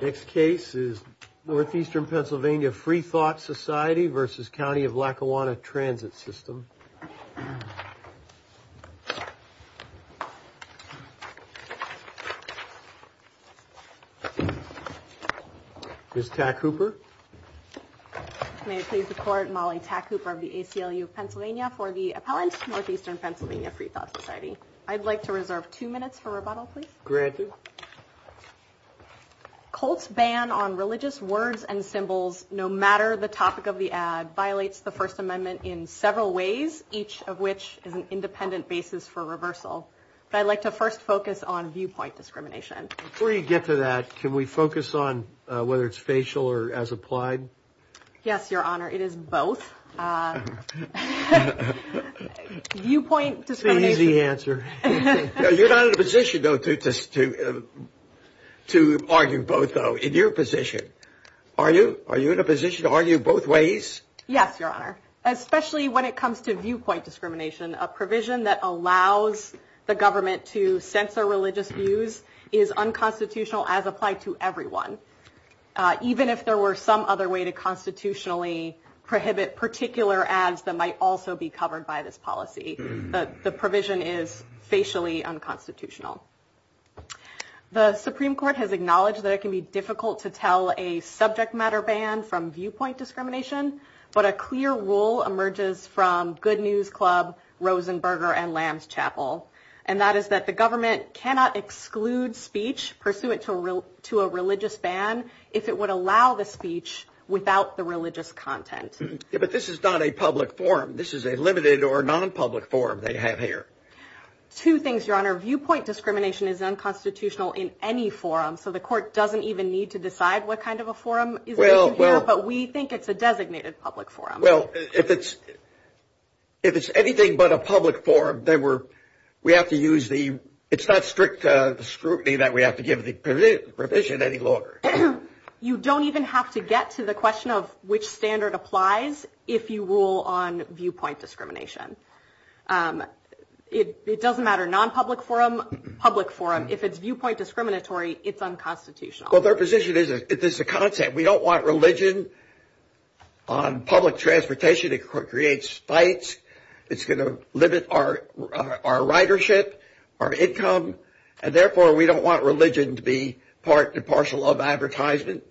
Next case is Northeastern PA Freethought Society versus County of Lackawanna Transit System. Ms. Tack-Hooper. May it please the Court, Molly Tack-Hooper of the ACLU of Pennsylvania for the appellant, Northeastern PA Freethought Society. I'd like to reserve two minutes for rebuttal, please. Granted. Colts' ban on religious words and symbols, no matter the topic of the ad, violates the First Amendment in several ways, each of which is an independent basis for reversal. But I'd like to first focus on viewpoint discrimination. Before you get to that, can we focus on whether it's facial or as applied? Yes, Your Honor, it is both. Viewpoint discrimination. It's an easy answer. You're not in a position, though, to argue both, though. In your position, are you? Are you in a position to argue both ways? Yes, Your Honor, especially when it comes to viewpoint discrimination. A provision that allows the government to censor religious views is unconstitutional as applied to everyone. Even if there were some other way to constitutionally prohibit particular ads that might also be covered by this policy, the provision is facially unconstitutional. The Supreme Court has acknowledged that it can be difficult to tell a subject matter ban from viewpoint discrimination, but a clear rule emerges from Good News Club, Rosenberger, and Lamb's Chapel. And that is that the government cannot exclude speech pursuant to a religious ban if it would allow the speech without the religious content. But this is not a public forum. This is a limited or non-public forum they have here. Two things, Your Honor. Viewpoint discrimination is unconstitutional in any forum. So the court doesn't even need to decide what kind of a forum is here, but we think it's a designated public forum. Well, if it's if it's anything but a public forum, then we have to use the it's not strict scrutiny that we have to give the provision any longer. You don't even have to get to the question of which standard applies if you rule on viewpoint discrimination. It doesn't matter, non-public forum, public forum. If it's viewpoint discriminatory, it's unconstitutional. Well, their position is that this is a concept. We don't want religion on public transportation. It creates fights. It's going to limit our ridership, our income. And therefore, we don't want religion to be part and parcel of advertisement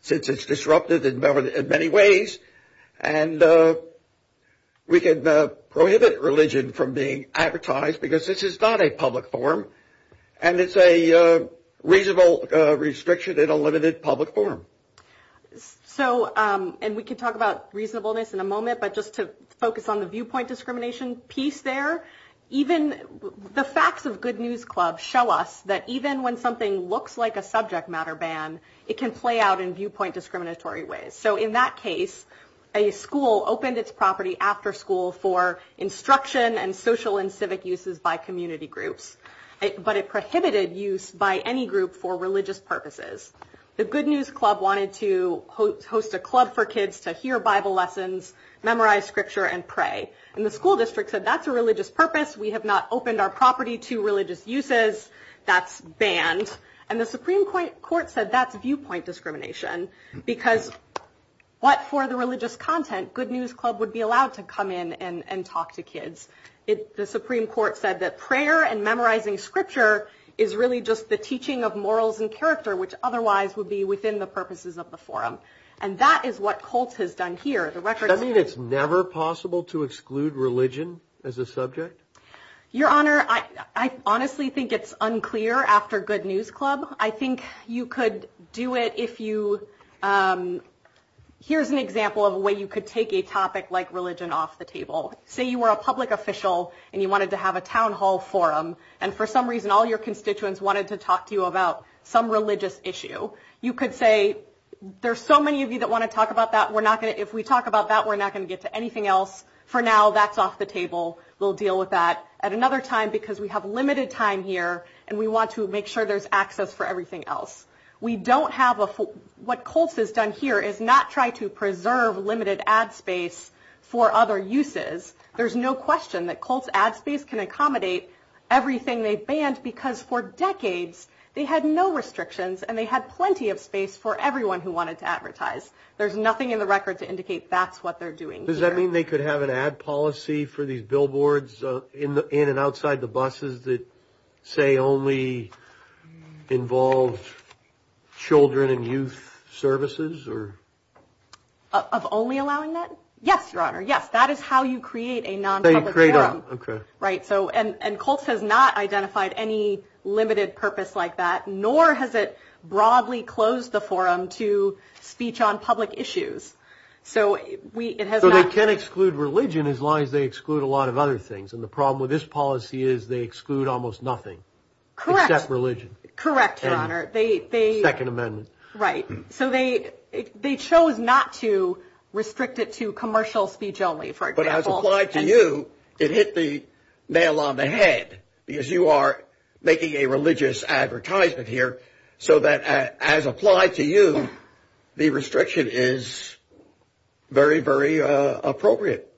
since it's disrupted in many ways. And we can prohibit religion from being advertised because this is not a public forum. And it's a reasonable restriction in a limited public forum. So and we can talk about reasonableness in a moment, but just to focus on the viewpoint discrimination piece there. Even the facts of Good News Club show us that even when something looks like a subject matter ban, it can play out in viewpoint discriminatory ways. So in that case, a school opened its property after school for instruction and social and civic uses by community groups. But it prohibited use by any group for religious purposes. The Good News Club wanted to host a club for kids to hear Bible lessons, memorize scripture and pray. And the school district said that's a religious purpose. We have not opened our property to religious uses. That's banned. And the Supreme Court said that's viewpoint discrimination because what for the religious content? Good News Club would be allowed to come in and talk to kids. The Supreme Court said that prayer and memorizing scripture is really just the teaching of morals and character, which otherwise would be within the purposes of the forum. And that is what Colts has done here. The record. I mean, it's never possible to exclude religion as a subject. Your Honor, I honestly think it's unclear after Good News Club. I think you could do it if you. Here's an example of a way you could take a topic like religion off the table. Say you were a public official and you wanted to have a town hall forum. And for some reason, all your constituents wanted to talk to you about some religious issue. You could say there's so many of you that want to talk about that. We're not going to if we talk about that, we're not going to get to anything else for now. That's off the table. We'll deal with that at another time because we have limited time here and we want to make sure there's access for everything else. We don't have what Colts has done here is not try to preserve limited ad space for other uses. There's no question that Colts ad space can accommodate everything they've banned because for decades they had no restrictions and they had plenty of space for everyone who wanted to advertise. There's nothing in the record to indicate that's what they're doing. Does that mean they could have an ad policy for these billboards in and outside the buses that say only involved children and youth services or? Of only allowing that? Yes, your honor. Yes. That is how you create a non-public forum. Right. So and Colts has not identified any limited purpose like that, nor has it broadly closed the forum to speech on public issues. So we it has. So they can exclude religion as long as they exclude a lot of other things. And the problem with this policy is they exclude almost nothing. Correct. Religion. Correct. Your honor. They they. Second Amendment. Right. So they they chose not to restrict it to commercial speech only. For example, applied to you. It hit the nail on the head because you are making a religious advertisement here. So that as applied to you, the restriction is very, very appropriate.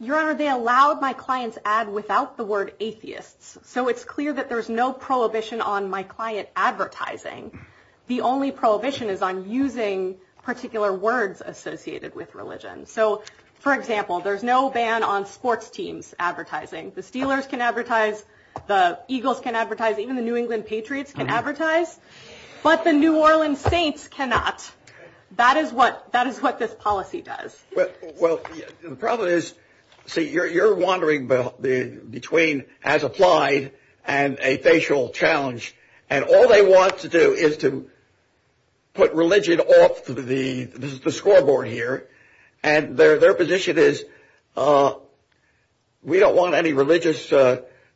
Your honor, they allowed my clients ad without the word atheists. So it's clear that there's no prohibition on my client advertising. The only prohibition is on using particular words associated with religion. So, for example, there's no ban on sports teams advertising. The Steelers can advertise. The Eagles can advertise. Even the New England Patriots can advertise. But the New Orleans Saints cannot. That is what that is what this policy does. Well, the problem is, see, you're wandering between as applied and a facial challenge. And all they want to do is to put religion off the scoreboard here. And their their position is we don't want any religious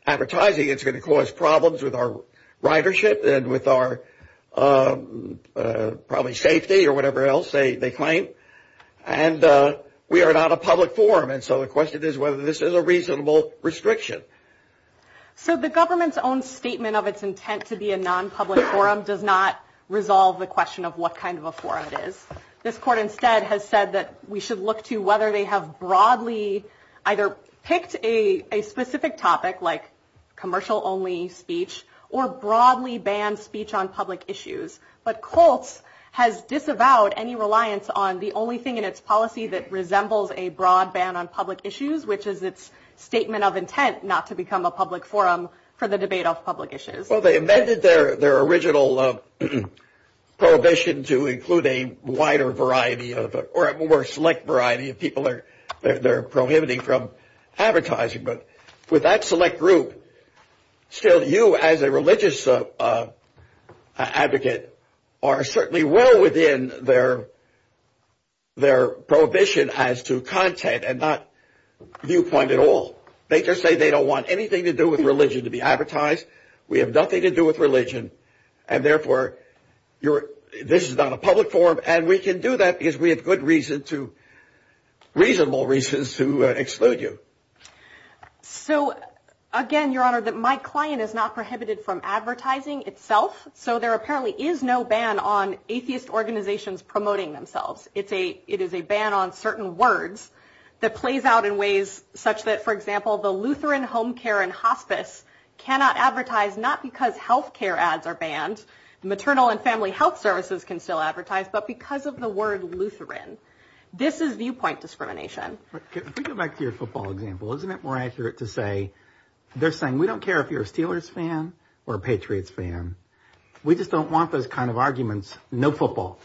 advertising. It's going to cause problems with our ridership and with our probably safety or whatever else they claim. And we are not a public forum. And so the question is whether this is a reasonable restriction. So the government's own statement of its intent to be a non-public forum does not resolve the question of what kind of a forum it is. This court instead has said that we should look to whether they have broadly either picked a specific topic like commercial only speech or broadly banned speech on public issues. But Colts has disavowed any reliance on the only thing in its policy that resembles a broad ban on public issues, which is its statement of intent not to become a public forum for the debate of public issues. Well, they amended their their original prohibition to include a wider variety of or a more select variety of people that they're prohibiting from advertising. But with that select group, still, you as a religious advocate are certainly well within their their prohibition as to content and not viewpoint at all. They just say they don't want anything to do with religion to be advertised. We have nothing to do with religion and therefore you're this is not a public forum and we can do that because we have good reason to reasonable reasons to exclude you. So, again, your honor, that my client is not prohibited from advertising itself. So there apparently is no ban on atheist organizations promoting themselves. It's a it is a ban on certain words that plays out in ways such that, for example, the Lutheran home care and hospice cannot advertise, not because health care ads are banned. Maternal and family health services can still advertise. But because of the word Lutheran, this is viewpoint discrimination. If we go back to your football example, isn't it more accurate to say they're saying we don't care if you're a Steelers fan or a Patriots fan. We just don't want those kind of arguments. No football.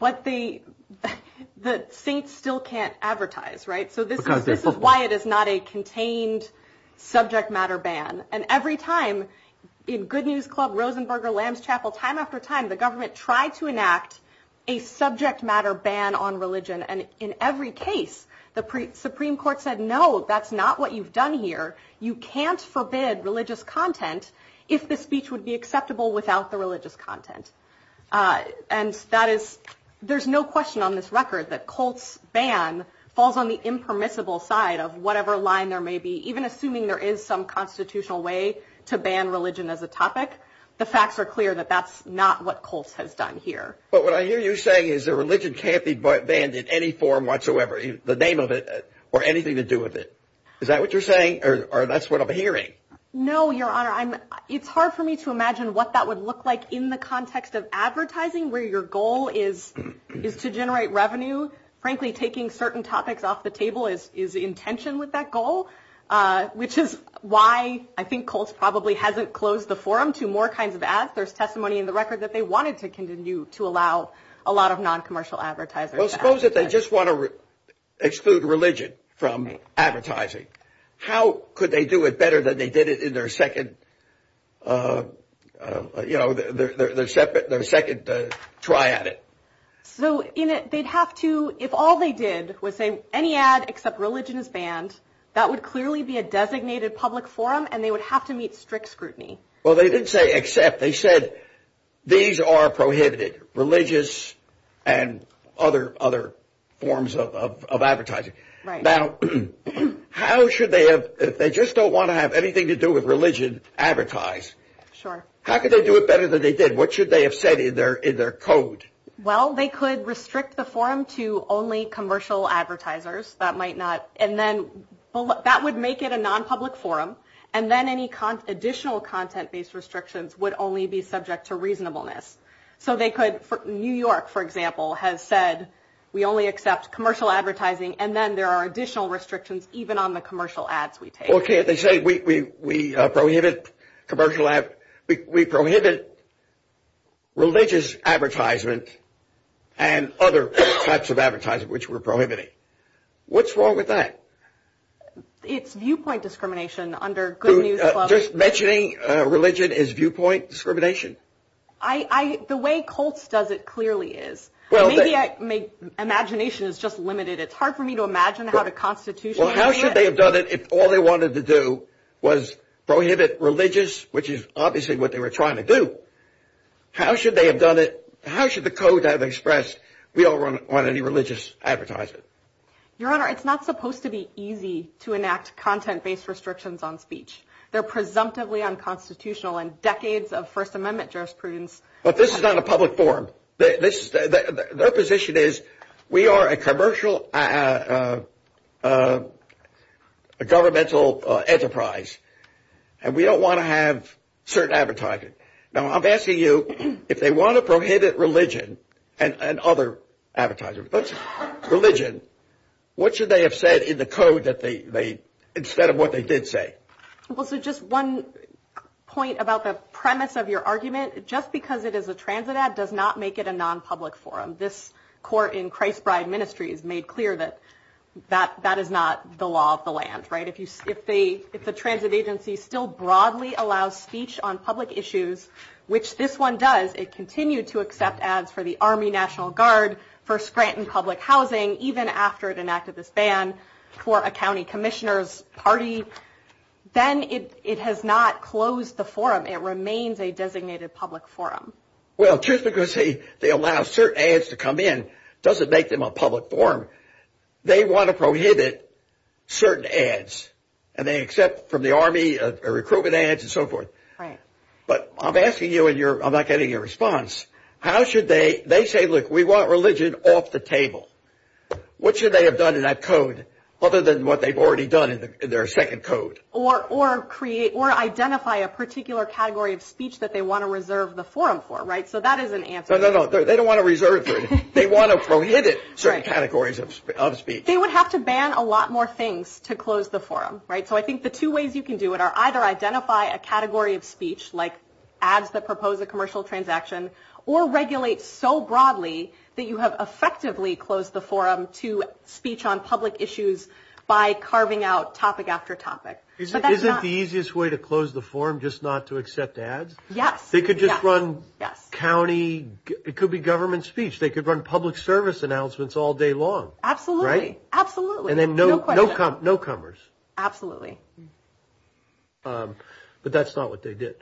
But the the Saints still can't advertise. Right. So this is why it is not a contained subject matter ban. And every time in Good News Club, Rosenberger, Lamb's Chapel, time after time, the government tried to enact a subject matter ban on religion. And in every case, the Supreme Court said, no, that's not what you've done here. You can't forbid religious content if the speech would be acceptable without the religious content. And that is there's no question on this record that Colts ban falls on the impermissible side of whatever line there may be, even assuming there is some constitutional way to ban religion as a topic. The facts are clear that that's not what Colts has done here. But what I hear you saying is the religion can't be banned in any form whatsoever, the name of it or anything to do with it. Is that what you're saying? Or that's what I'm hearing. No, Your Honor, I'm it's hard for me to imagine what that would look like in the context of advertising, where your goal is, is to generate revenue. Frankly, taking certain topics off the table is is intention with that goal, which is why I think Colts probably hasn't closed the forum to more kinds of ads. There's testimony in the record that they wanted to continue to allow a lot of non-commercial advertisers. Well, suppose that they just want to exclude religion from advertising. How could they do it better than they did it in their second, you know, their second try at it? So they'd have to if all they did was say any ad except religion is banned, that would clearly be a designated public forum and they would have to meet strict scrutiny. Well, they didn't say except they said these are prohibited, religious and other other forms of advertising. Now, how should they have if they just don't want to have anything to do with religion advertised? Sure. How could they do it better than they did? What should they have said in their in their code? Well, they could restrict the forum to only commercial advertisers that might not. And then that would make it a non-public forum. And then any additional content based restrictions would only be subject to reasonableness. So they could. New York, for example, has said we only accept commercial advertising and then there are additional restrictions even on the commercial ads we take. Well, can't they say we we prohibit commercial ad, we prohibit religious advertisement and other types of advertising which we're prohibiting? What's wrong with that? It's viewpoint discrimination under good news. Just mentioning religion is viewpoint discrimination. I the way Colts does it clearly is well, maybe I make imagination is just limited. It's hard for me to imagine how the Constitution. Well, how should they have done it if all they wanted to do was prohibit religious, which is obviously what they were trying to do? How should they have done it? How should the code have expressed we all run on any religious advertisement? Your Honor, it's not supposed to be easy to enact content based restrictions on speech. They're presumptively unconstitutional and decades of First Amendment jurisprudence. But this is not a public forum. This is their position is we are a commercial, a governmental enterprise and we don't want to have certain advertising. Now, I'm asking you if they want to prohibit religion and other advertisers, but religion, what should they have said in the code that they made instead of what they did say? Well, so just one point about the premise of your argument, just because it is a transit ad does not make it a non-public forum. This court in Christbride Ministries made clear that that that is not the law of the land. Right. If you if they if the transit agency still broadly allows speech on public issues, which this one does, it continued to accept ads for the Army National Guard, for Scranton Public Housing, even after it enacted this ban for a county commissioner's party. Then it it has not closed the forum. It remains a designated public forum. Well, just because they allow certain ads to come in doesn't make them a public forum. They want to prohibit certain ads and they accept from the Army recruitment ads and so forth. But I'm asking you and you're not getting a response. How should they they say, look, we want religion off the table. What should they have done in that code other than what they've already done in their second code or or create or identify a particular category of speech that they want to reserve the forum for? Right. So that is an answer. No, no, no. They don't want to reserve. They want to prohibit certain categories of speech. They would have to ban a lot more things to close the forum. Right. So I think the two ways you can do it are either identify a category of speech like ads that propose a commercial transaction or regulate so broadly that you have effectively closed the forum to speech on public issues by carving out topic after topic. Isn't isn't the easiest way to close the forum just not to accept ads? Yes. They could just run. Yes. County, it could be government speech. They could run public service announcements all day long. Absolutely. Right. Absolutely. And then no, no, no comers. Absolutely. But that's not what they did.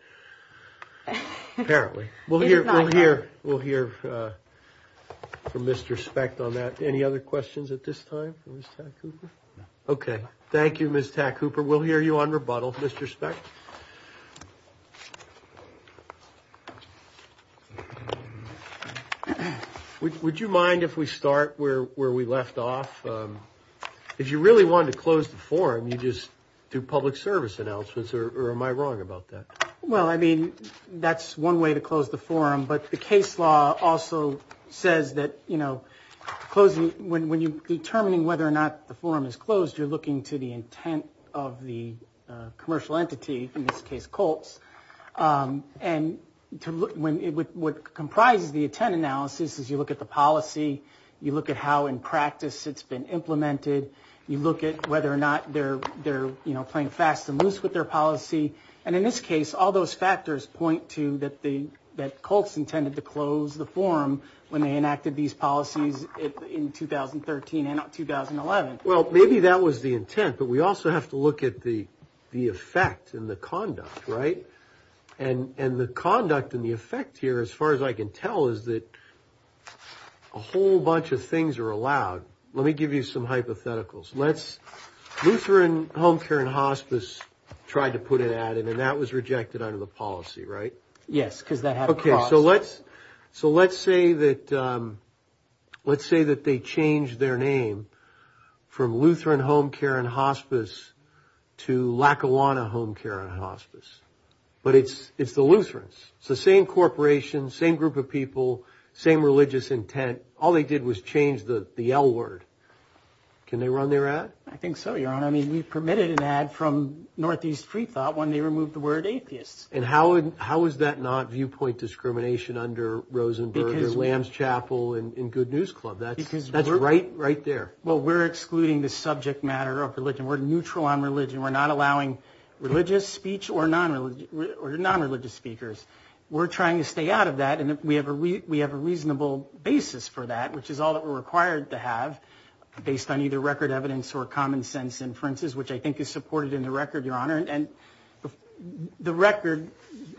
Apparently, we'll hear we'll hear we'll hear from Mr. Specht on that. Any other questions at this time? OK, thank you, Miss Cooper. We'll hear you on rebuttal, Mr. Specht. Would you mind if we start where where we left off? If you really want to close the forum, you just do public service announcements or am I wrong about that? Well, I mean, that's one way to close the forum. But the case law also says that, you know, closing when when you determining whether or not the forum is closed, you're looking to the intent of the commercial entity, in this case, Colts. And when it would comprise the intent analysis, as you look at the policy, you look at how in practice it's been implemented. You look at whether or not they're they're playing fast and loose with their policy. And in this case, all those factors point to that the that Colts intended to close the forum when they enacted these policies in 2013 and 2011. Well, maybe that was the intent. But we also have to look at the the effect and the conduct. Right. And and the conduct and the effect here, as far as I can tell, is that a whole bunch of things are allowed. Let me give you some hypotheticals. Let's Lutheran Home Care and Hospice tried to put it at it and that was rejected under the policy. Right. Yes. Because that. OK, so let's so let's say that let's say that they change their name from Lutheran Home Care and Hospice to Lackawanna Home Care and Hospice. But it's it's the Lutherans. It's the same corporation, same group of people, same religious intent. All they did was change the L word. Can they run their ad? I think so, your honor. I mean, we permitted an ad from Northeast Freethought when they removed the word atheists. And how how is that not viewpoint discrimination under Rosenberger, Lamb's Chapel and Good News Club? That's because that's right right there. Well, we're excluding the subject matter of religion. We're neutral on religion. We're not allowing religious speech or non-religious or non-religious speakers. We're trying to stay out of that. And we have a we have a reasonable basis for that, which is all that we're required to have based on either record evidence or common sense inferences, which I think is supported in the record, your honor. And the record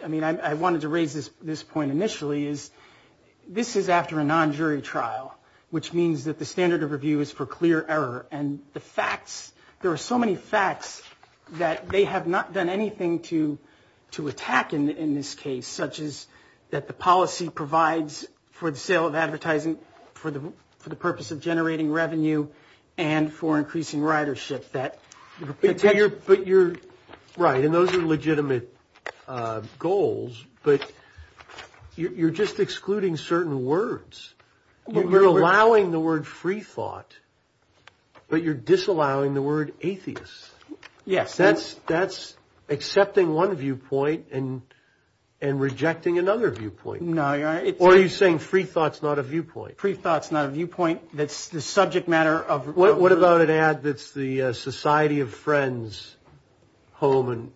I mean, I wanted to raise this this point initially is this is after a non-jury trial, which means that the standard of review is for clear error. And the facts there are so many facts that they have not done anything to to attack in this case, such as that the policy provides for the sale of advertising, for the for the purpose of generating revenue and for increasing ridership that you're but you're right. And those are legitimate goals, but you're just excluding certain words. You're allowing the word free thought, but you're disallowing the word atheist. Yes, that's that's accepting one viewpoint and and rejecting another viewpoint. No, you're right. Or are you saying free thoughts, not a viewpoint? Free thoughts, not a viewpoint. That's the subject matter of what? What about an ad that's the Society of Friends Home and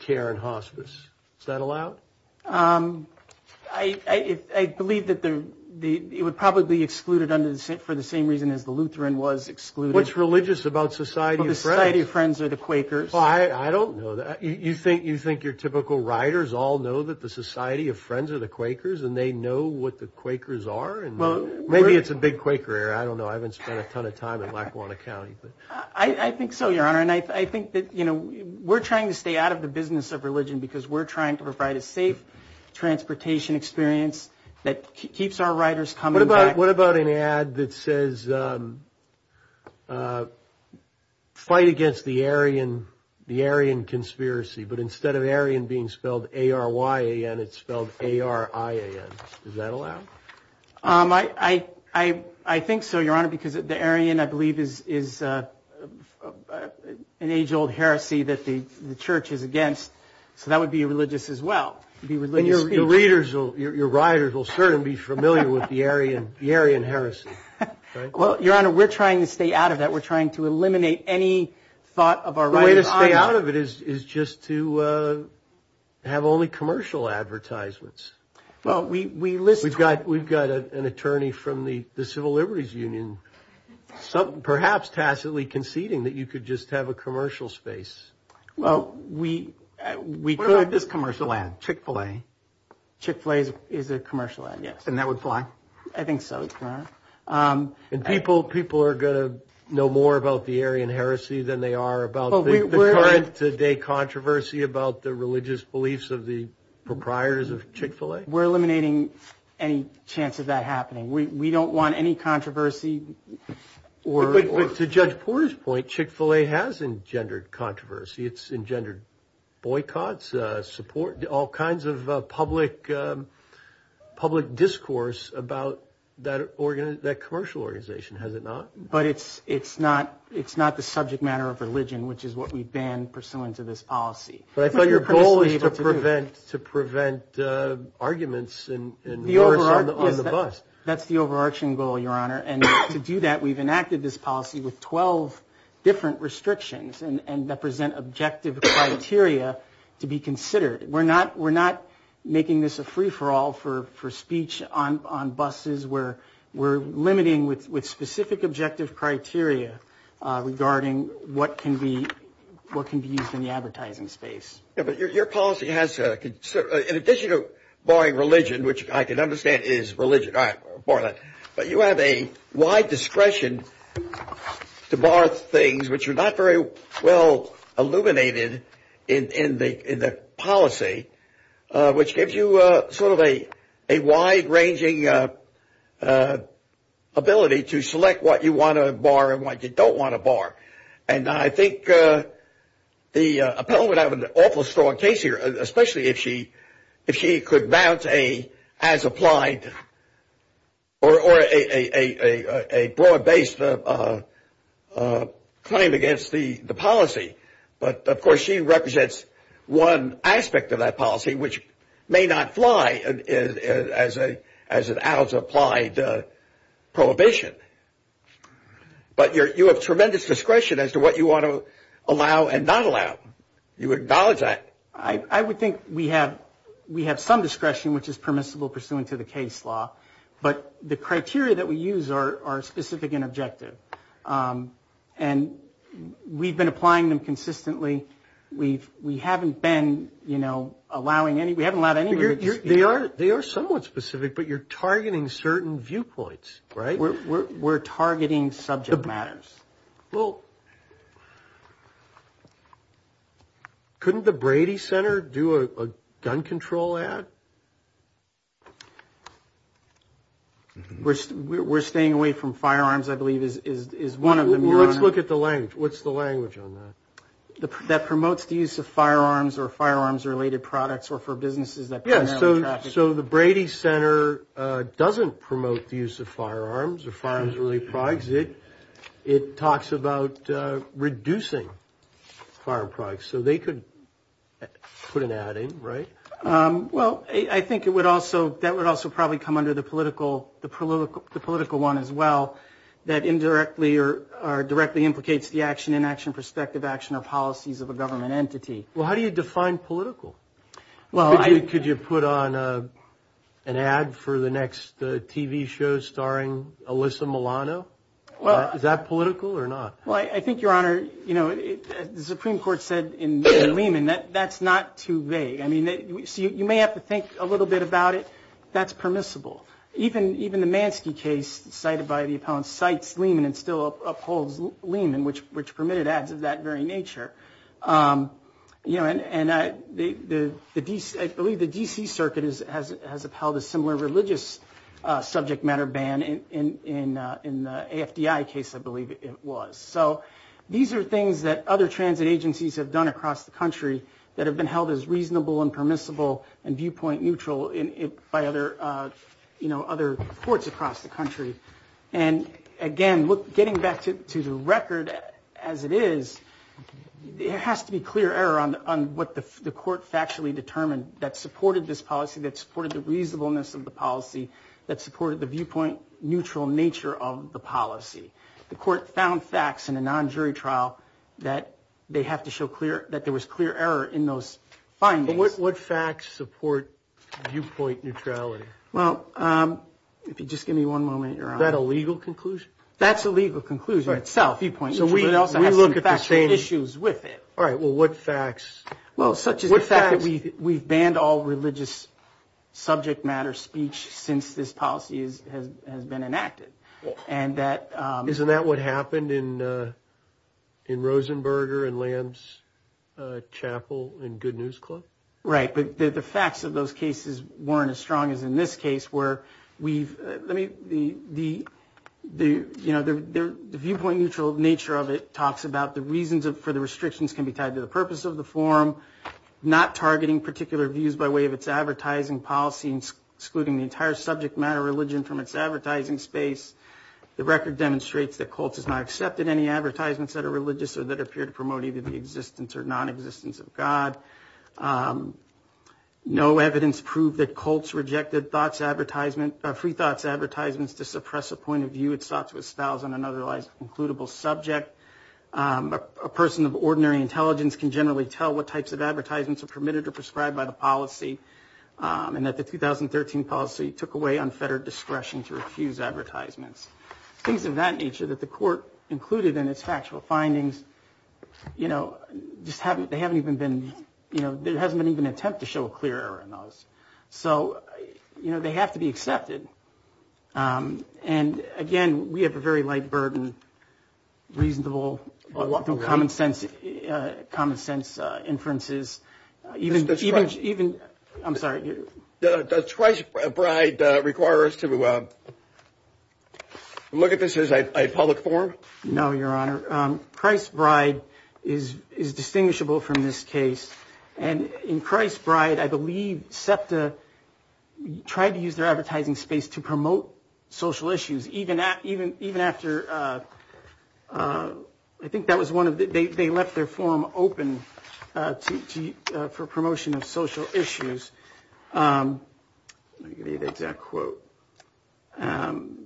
Care and Hospice? Is that allowed? I believe that the it would probably be excluded under the same for the same reason as the Lutheran was excluded. What's religious about society? The Society of Friends are the Quakers. I don't know that you think you think your typical writers all know that the Society of Friends are the Quakers and they know what the Quakers are. And maybe it's a big Quaker. I don't know. I haven't spent a ton of time in Lackawanna County, but I think so, your honor. And I think that, you know, we're trying to stay out of the business of religion because we're trying to provide a safe transportation experience that keeps our writers coming. But what about an ad that says fight against the Aryan, the Aryan conspiracy? But instead of Aryan being spelled A-R-Y-A-N, it's spelled A-R-I-A-N. Is that allowed? I, I, I, I think so, your honor, because the Aryan, I believe, is is an age old heresy that the church is against. So that would be religious as well. The religious readers, your writers will certainly be familiar with the Aryan, the Aryan heresy. Well, your honor, we're trying to stay out of that. We're trying to eliminate any thought of our writers. The way to stay out of it is just to have only commercial advertisements. Well, we, we list, we've got, we've got an attorney from the, the Civil Liberties Union, perhaps tacitly conceding that you could just have a commercial space. Well, we, we, what about this commercial ad, Chick-fil-A? Chick-fil-A is a commercial ad, yes. And that would fly? I think so, your honor. And people, people are going to know more about the Aryan heresy than they are about the current day controversy about the religious beliefs of the proprietors of Chick-fil-A. We're eliminating any chance of that happening. We, we don't want any controversy or... But to Judge Porter's point, Chick-fil-A has engendered controversy. It's engendered boycotts, support, all kinds of public, public discourse about that organ, that commercial organization, has it not? But it's, it's not, it's not the subject matter of religion, which is what we ban pursuant to this policy. But I thought your goal was to prevent, to prevent arguments and, and worse on the, on the bus. That's the overarching goal, your honor. And to do that, we've enacted this policy with 12 different restrictions and, and that present objective criteria to be considered. We're not, we're not making this a free for all for, for speech on, on buses where we're limiting with, with specific objective criteria regarding what can be, what can be used in the advertising space. Yeah, but your, your policy has a, in addition to barring religion, which I can understand is religion, all right, bar that. But you have a wide discretion to bar things which are not very well illuminated in, in the, in the policy, which gives you a sort of a, a wide ranging ability to select what you want to bar and what you don't want to bar. And I think the appellant would have an awful strong case here, especially if she, if she could mount a as-applied or, or a, a, a, a broad-based claim against the, the policy. But of course, she represents one aspect of that policy, which may not fly as a, as an as-applied prohibition. But you're, you have tremendous discretion as to what you want to allow and not allow. You acknowledge that. I, I would think we have, we have some discretion which is permissible pursuant to the case law. But the criteria that we use are, are specific and objective. And we've been applying them consistently. We've, we haven't been, you know, allowing any, we haven't allowed any. You're, you're, they are, they are somewhat specific, but you're targeting certain viewpoints, right? We're, we're, we're targeting subject matters. Well, couldn't the Brady Center do a, a gun control ad? We're, we're, we're staying away from firearms, I believe, is, is, is one of them. Let's look at the language. What's the language on that? That promotes the use of firearms or firearms-related products or for businesses that primarily traffic. So the Brady Center doesn't promote the use of firearms or firearms-related products. It, it talks about reducing firearm products. So they could put an ad in, right? Well, I think it would also, that would also probably come under the political, the political, the political one as well that indirectly or, or directly implicates the action, inaction, perspective, action, or policies of a government entity. Well, how do you define political? Well, I... Could you put on a, an ad for the next TV show starring Alyssa Milano? Well... Is that political or not? Well, I, I think, Your Honor, you know, the Supreme Court said in, in Lehman that, that's not too vague. I mean, so you, you may have to think a little bit about it. That's permissible. Even, even the Mansky case cited by the appellant cites Lehman and still upholds Lehman, which, which permitted ads of that very nature. You know, and, and the, the, the DC, I believe the DC circuit is, has, has upheld a similar religious subject matter ban in, in, in the AFDI case, I believe it was. So these are things that other transit agencies have done across the country that have been held as reasonable and permissible and viewpoint neutral in, by other, you know, other courts across the country. And again, look, getting back to, to the record as it is, there has to be clear error on, on what the, the court factually determined that supported this policy, that supported the reasonableness of the policy, that supported the viewpoint neutral nature of the policy. The court found facts in a non-jury trial that they have to show clear, that there was clear error in those findings. But what, what facts support viewpoint neutrality? Well, if you just give me one moment, you're on. Is that a legal conclusion? That's a legal conclusion itself. Viewpoint neutral, but it also has some factual issues with it. All right, well, what facts? Well, such as the fact that we, we've banned all religious subject matter speech since this policy is, has, has been enacted. And that... Isn't that what happened in, in Rosenberger and Lamb's Chapel and Good News Club? Right, but the facts of those cases weren't as strong as in this case where we've, let me, the, the, the, you know, the viewpoint neutral nature of it talks about the reasons for the restrictions can be tied to the purpose of the form, not targeting particular views by way of its advertising policy and excluding the entire subject matter religion from its advertising space. The record demonstrates that Colts has not accepted any advertisements that are religious or that appear to promote either the existence or non-existence of God. Um, no evidence proved that Colts rejected thoughts, advertisement, uh, free thoughts advertisements to suppress a point of view it's thought to establish on an otherwise concludable subject. Um, a person of ordinary intelligence can generally tell what types of advertisements are permitted or prescribed by the policy, um, and that the 2013 policy took away unfettered discretion to refuse advertisements. Things of that nature that the court included in its factual findings, you know, just haven't, they haven't even been, you know, there hasn't been even an attempt to show a clear error in those. So, you know, they have to be accepted. Um, and again, we have a very light burden, reasonable, common sense, uh, common sense, uh, inferences, even, even, even, I'm sorry. Does Christ's Bride, uh, require us to, uh, look at this as a public forum? No, Your Honor. Christ's Bride is, is distinguishable from this case. And in Christ's Bride, I believe SEPTA tried to use their advertising space to promote social issues, even at, even, even after, uh, uh, I think that was one of the, they, they left their forum open, uh, to, to, uh, for promotion of social issues. Um, let me give you the exact quote. Um,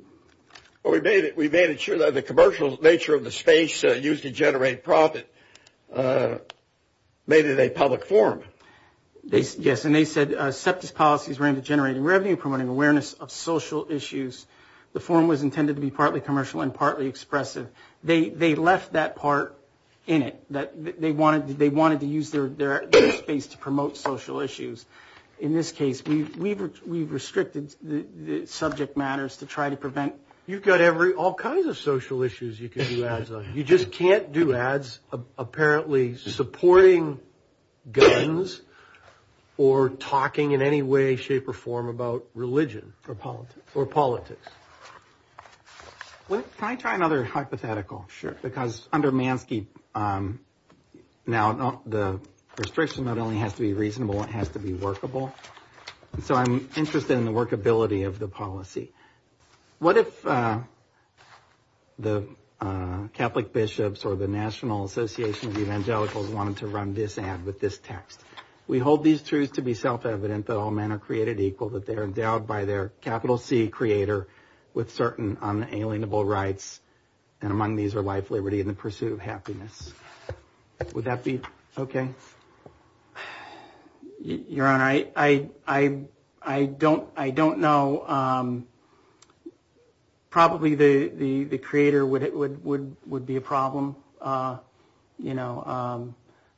well, we made it, we made it sure that the commercial nature of the space, uh, used to generate profit, uh, made it a public forum. They, yes, and they said, uh, SEPTA's policies were aimed at generating revenue, promoting awareness of social issues. The forum was intended to be partly commercial and partly expressive. They, they left that part in it, that they wanted, they wanted to use their, their space to promote social issues. In this case, we've, we've, we've restricted the subject matters to try to prevent... You've got every, all kinds of social issues you can do ads on. You just can't do ads, apparently supporting guns or talking in any way, shape or form about religion. Or politics. Or politics. Can I try another hypothetical? Sure. Because under Mansky, um, now the restriction not only has to be reasonable, it has to be workable. So I'm interested in the workability of the policy. What if, uh, the, uh, Catholic bishops or the National Association of Evangelicals wanted to run this ad with this text? We hold these truths to be self-evident that all men are created equal, that they are endowed by their capital C creator with certain unalienable rights. And among these are life, liberty, and the pursuit of happiness. Would that be okay? Uh, Your Honor, I, I, I don't, I don't know. Um, probably the, the, the creator would, would, would, would be a problem. Uh, you know, um,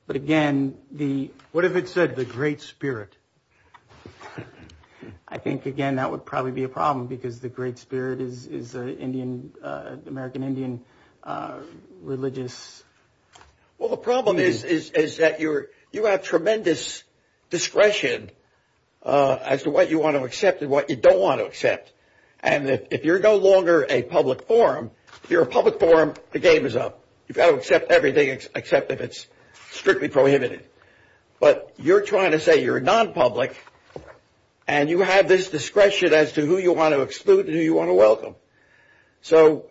but again, the... What if it said the great spirit? I think again, that would probably be a problem because the great spirit is, is a Indian, uh, American Indian, uh, religious... Well, the problem is, is, is that you're, you have tremendous discretion, uh, as to what you want to accept and what you don't want to accept. And if you're no longer a public forum, if you're a public forum, the game is up. You've got to accept everything except if it's strictly prohibited. But you're trying to say you're a non-public and you have this discretion as to who you want to exclude and who you want to welcome. So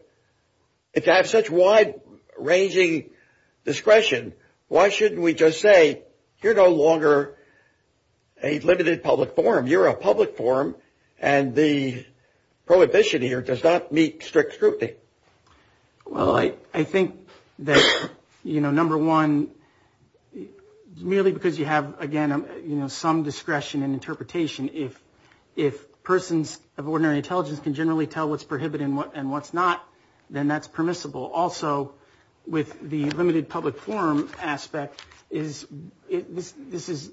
if you have such wide ranging discretion, why shouldn't we just say you're no longer a limited public forum? You're a public forum and the prohibition here does not meet strict scrutiny. Well, I, I think that, you know, number one, merely because you have, again, you know, some discretion and interpretation. If, if persons of ordinary intelligence can generally tell what's prohibited and what, and what's not, then that's permissible. Also with the limited public forum aspect is it, this, this is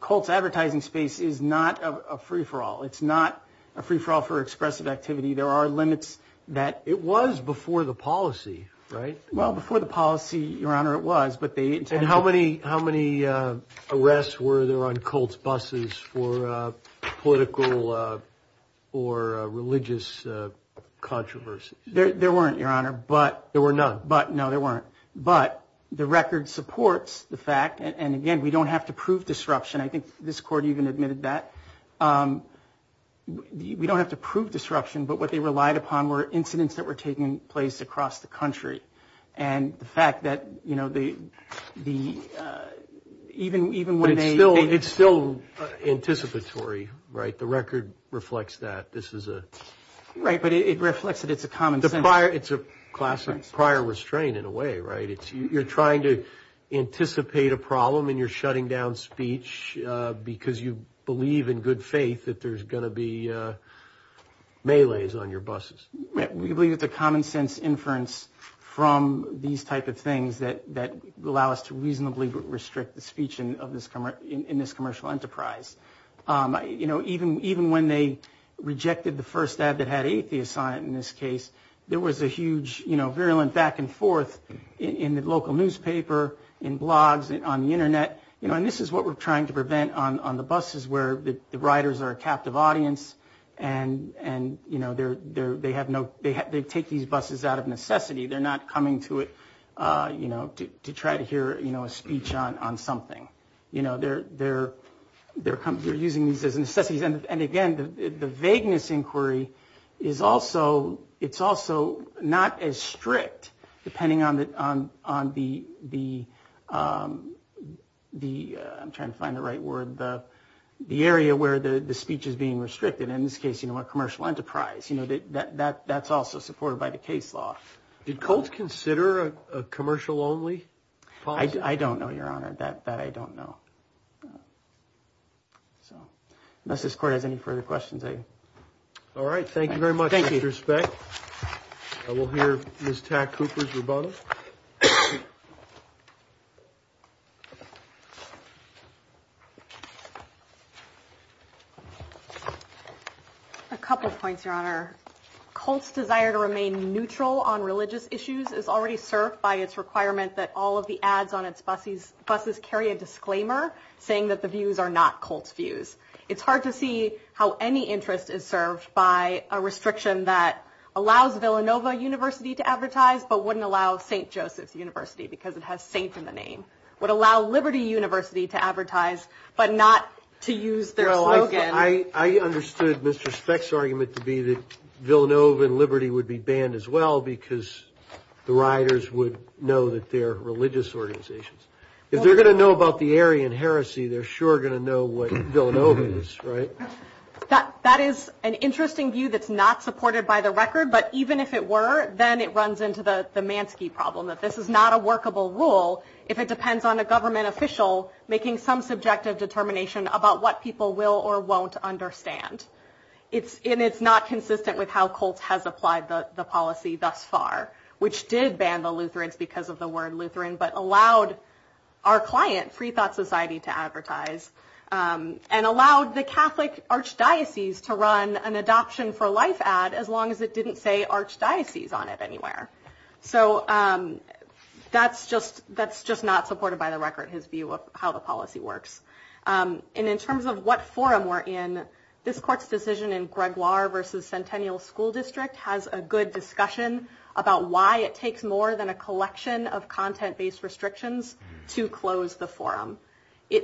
Colt's advertising space is not a free-for-all. It's not a free-for-all for expressive activity. There are limits that... It was before the policy, right? Well, before the policy, Your Honor, it was, but they... How many arrests were there on Colt's buses for political or religious controversies? There weren't, Your Honor, but... There were none. But no, there weren't. But the record supports the fact, and again, we don't have to prove disruption. I think this court even admitted that. We don't have to prove disruption, but what they relied upon were incidents that were taking place across the country. And the fact that, you know, the, the, even, even when they... But it's still, it's still anticipatory, right? The record reflects that. This is a... Right, but it reflects that it's a common sense. The prior, it's a classic prior restraint in a way, right? It's, you're trying to anticipate a problem and you're shutting down speech because you believe in good faith that there's going to be melees on your buses. We believe it's a common sense inference from these type of things that, that allow us to reasonably restrict the speech in this commercial enterprise. You know, even, even when they rejected the first ad that had atheists on it, in this case, there was a huge, you know, virulent back and forth in the local newspaper, in blogs, on the internet, you know, and this is what we're trying to prevent on, on the take these buses out of necessity. They're not coming to it, you know, to try to hear, you know, a speech on, on something. You know, they're, they're, they're using these as necessities. And again, the vagueness inquiry is also, it's also not as strict depending on the, on the, the, I'm trying to find the right word, the, the area where the speech is being restricted, in this case, you know, a commercial enterprise. You know, that, that, that's also supported by the case law. Did Colt consider a commercial only policy? I don't know, your honor, that, that I don't know. So, unless this court has any further questions, I... All right. Thank you very much. Thank you. With respect, I will hear Ms. Tack-Cooper's rebuttal. A couple of points, your honor. Colt's desire to remain neutral on religious issues is already served by its requirement that all of the ads on its buses, buses carry a disclaimer saying that the views are not Colt's views. It's hard to see how any interest is served by a restriction that allows Villanova University to advertise, but wouldn't allow St. Joseph's University because it has Saint in the name, would allow Liberty University to advertise, but not to use their slogan. I, I understood Mr. Speck's argument to be that Villanova and Liberty would be banned as well because the riders would know that they're religious organizations. If they're going to know about the Aryan heresy, they're sure going to know what Villanova is, right? That is an interesting view that's not supported by the record, but even if it were, it runs into the Mansky problem that this is not a workable rule if it depends on a government official making some subjective determination about what people will or won't It's, and it's not consistent with how Colt has applied the policy thus far, which did ban the Lutherans because of the word Lutheran, but allowed our client, Free Thought Society, to advertise and allowed the Catholic archdiocese to run an adoption for life ad as long as it didn't say archdiocese on it anywhere. So that's just, that's just not supported by the record, his view of how the policy works. And in terms of what forum we're in, this court's decision in Gregoire versus Centennial School District has a good discussion about why it takes more than a collection of content based restrictions to close the forum.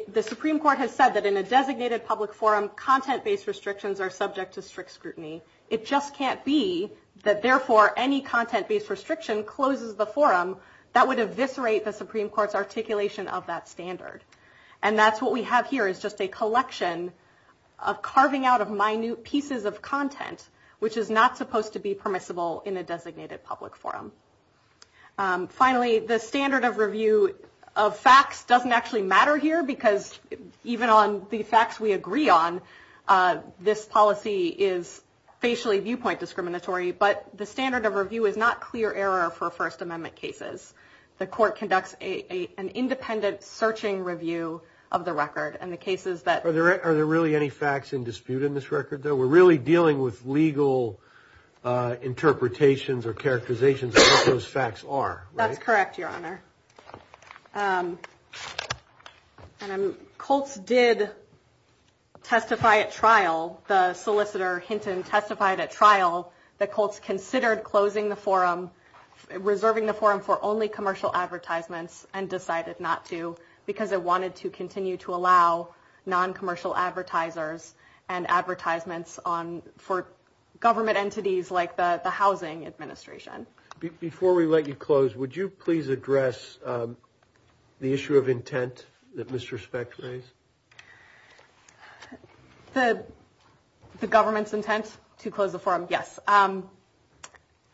The Supreme Court has said that in a designated public forum, content based restrictions are subject to strict scrutiny. It just can't be that therefore any content based restriction closes the forum that would eviscerate the Supreme Court's articulation of that standard. And that's what we have here is just a collection of carving out of minute pieces of content, which is not supposed to be permissible in a designated public forum. Finally, the standard of review of facts doesn't actually matter here because even on the facts we agree on, this policy is facially viewpoint discriminatory, but the standard of review is not clear error for First Amendment cases. The court conducts an independent searching review of the record and the cases that... Are there really any facts in dispute in this record though? We're really dealing with legal interpretations or characterizations of what those facts are. That's correct, Your Honor. And Colts did testify at trial, the solicitor Hinton testified at trial, that Colts considered closing the forum, reserving the forum for only commercial advertisements and decided not to because it wanted to continue to allow non-commercial advertisers and advertisements for government entities like the Housing Administration. Before we let you close, would you please address the issue of intent that Mr. Speck raised? The government's intent to close the forum, yes.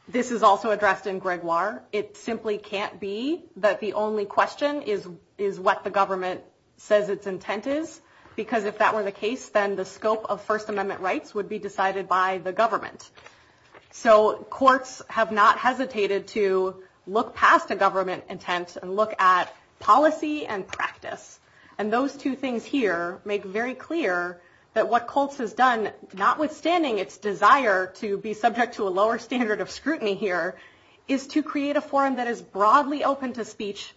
This is also addressed in Gregoire. It simply can't be that the only question is what the government says its intent is because if that were the case, then the scope of First Amendment rights would be decided by the government. So courts have not hesitated to look past a government intent and look at policy and practice. And those two things here make very clear that what Colts has done, notwithstanding its desire to be subject to a lower standard of scrutiny here, is to create a forum that is broadly open to speech,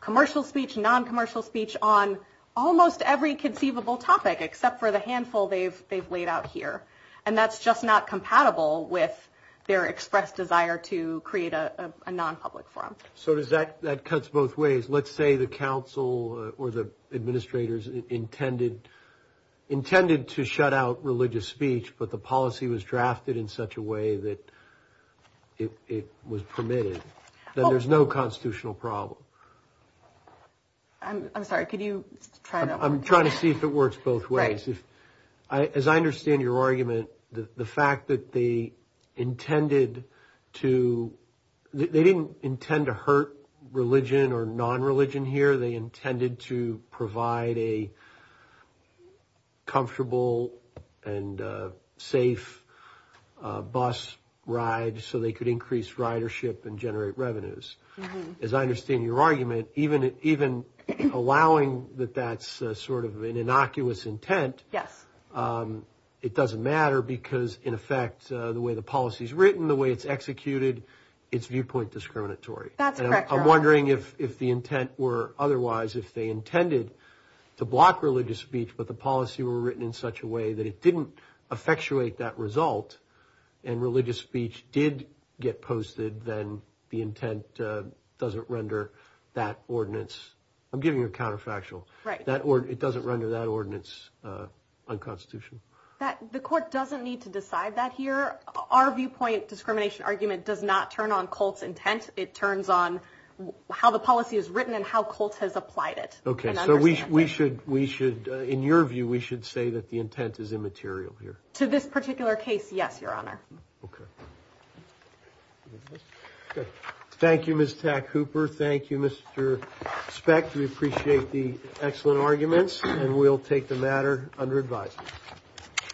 commercial speech, non-commercial speech, on almost every conceivable topic except for the handful they've laid out here. And that's just not compatible with their expressed desire to create a non-public forum. So that cuts both ways. Let's say the council or the administrators intended to shut out religious speech, but the policy was drafted in such a way that it was permitted. Then there's no constitutional problem. I'm sorry, could you try that? I'm trying to see if it works both ways. As I understand your argument, the fact that they intended to – they didn't intend to hurt religion or non-religion here. They intended to provide a comfortable and safe bus ride so they could increase ridership and generate revenues. As I understand your argument, even allowing that that's sort of an innocuous intent, it doesn't matter because, in effect, the way the policy is written, the way it's executed, it's viewpoint discriminatory. That's correct. I'm wondering if the intent were otherwise – if they intended to block religious speech, but the policy were written in such a way that it didn't effectuate that result and the intent doesn't render that ordinance – I'm giving you a counterfactual – it doesn't render that ordinance unconstitutional. The court doesn't need to decide that here. Our viewpoint discrimination argument does not turn on Colt's intent. It turns on how the policy is written and how Colt has applied it. Okay, so we should – in your view, we should say that the intent is immaterial here. To this particular case, yes, Your Honor. Okay. Okay. Thank you, Ms. Tack-Hooper. Thank you, Mr. Speck. We appreciate the excellent arguments, and we'll take the matter under advisement.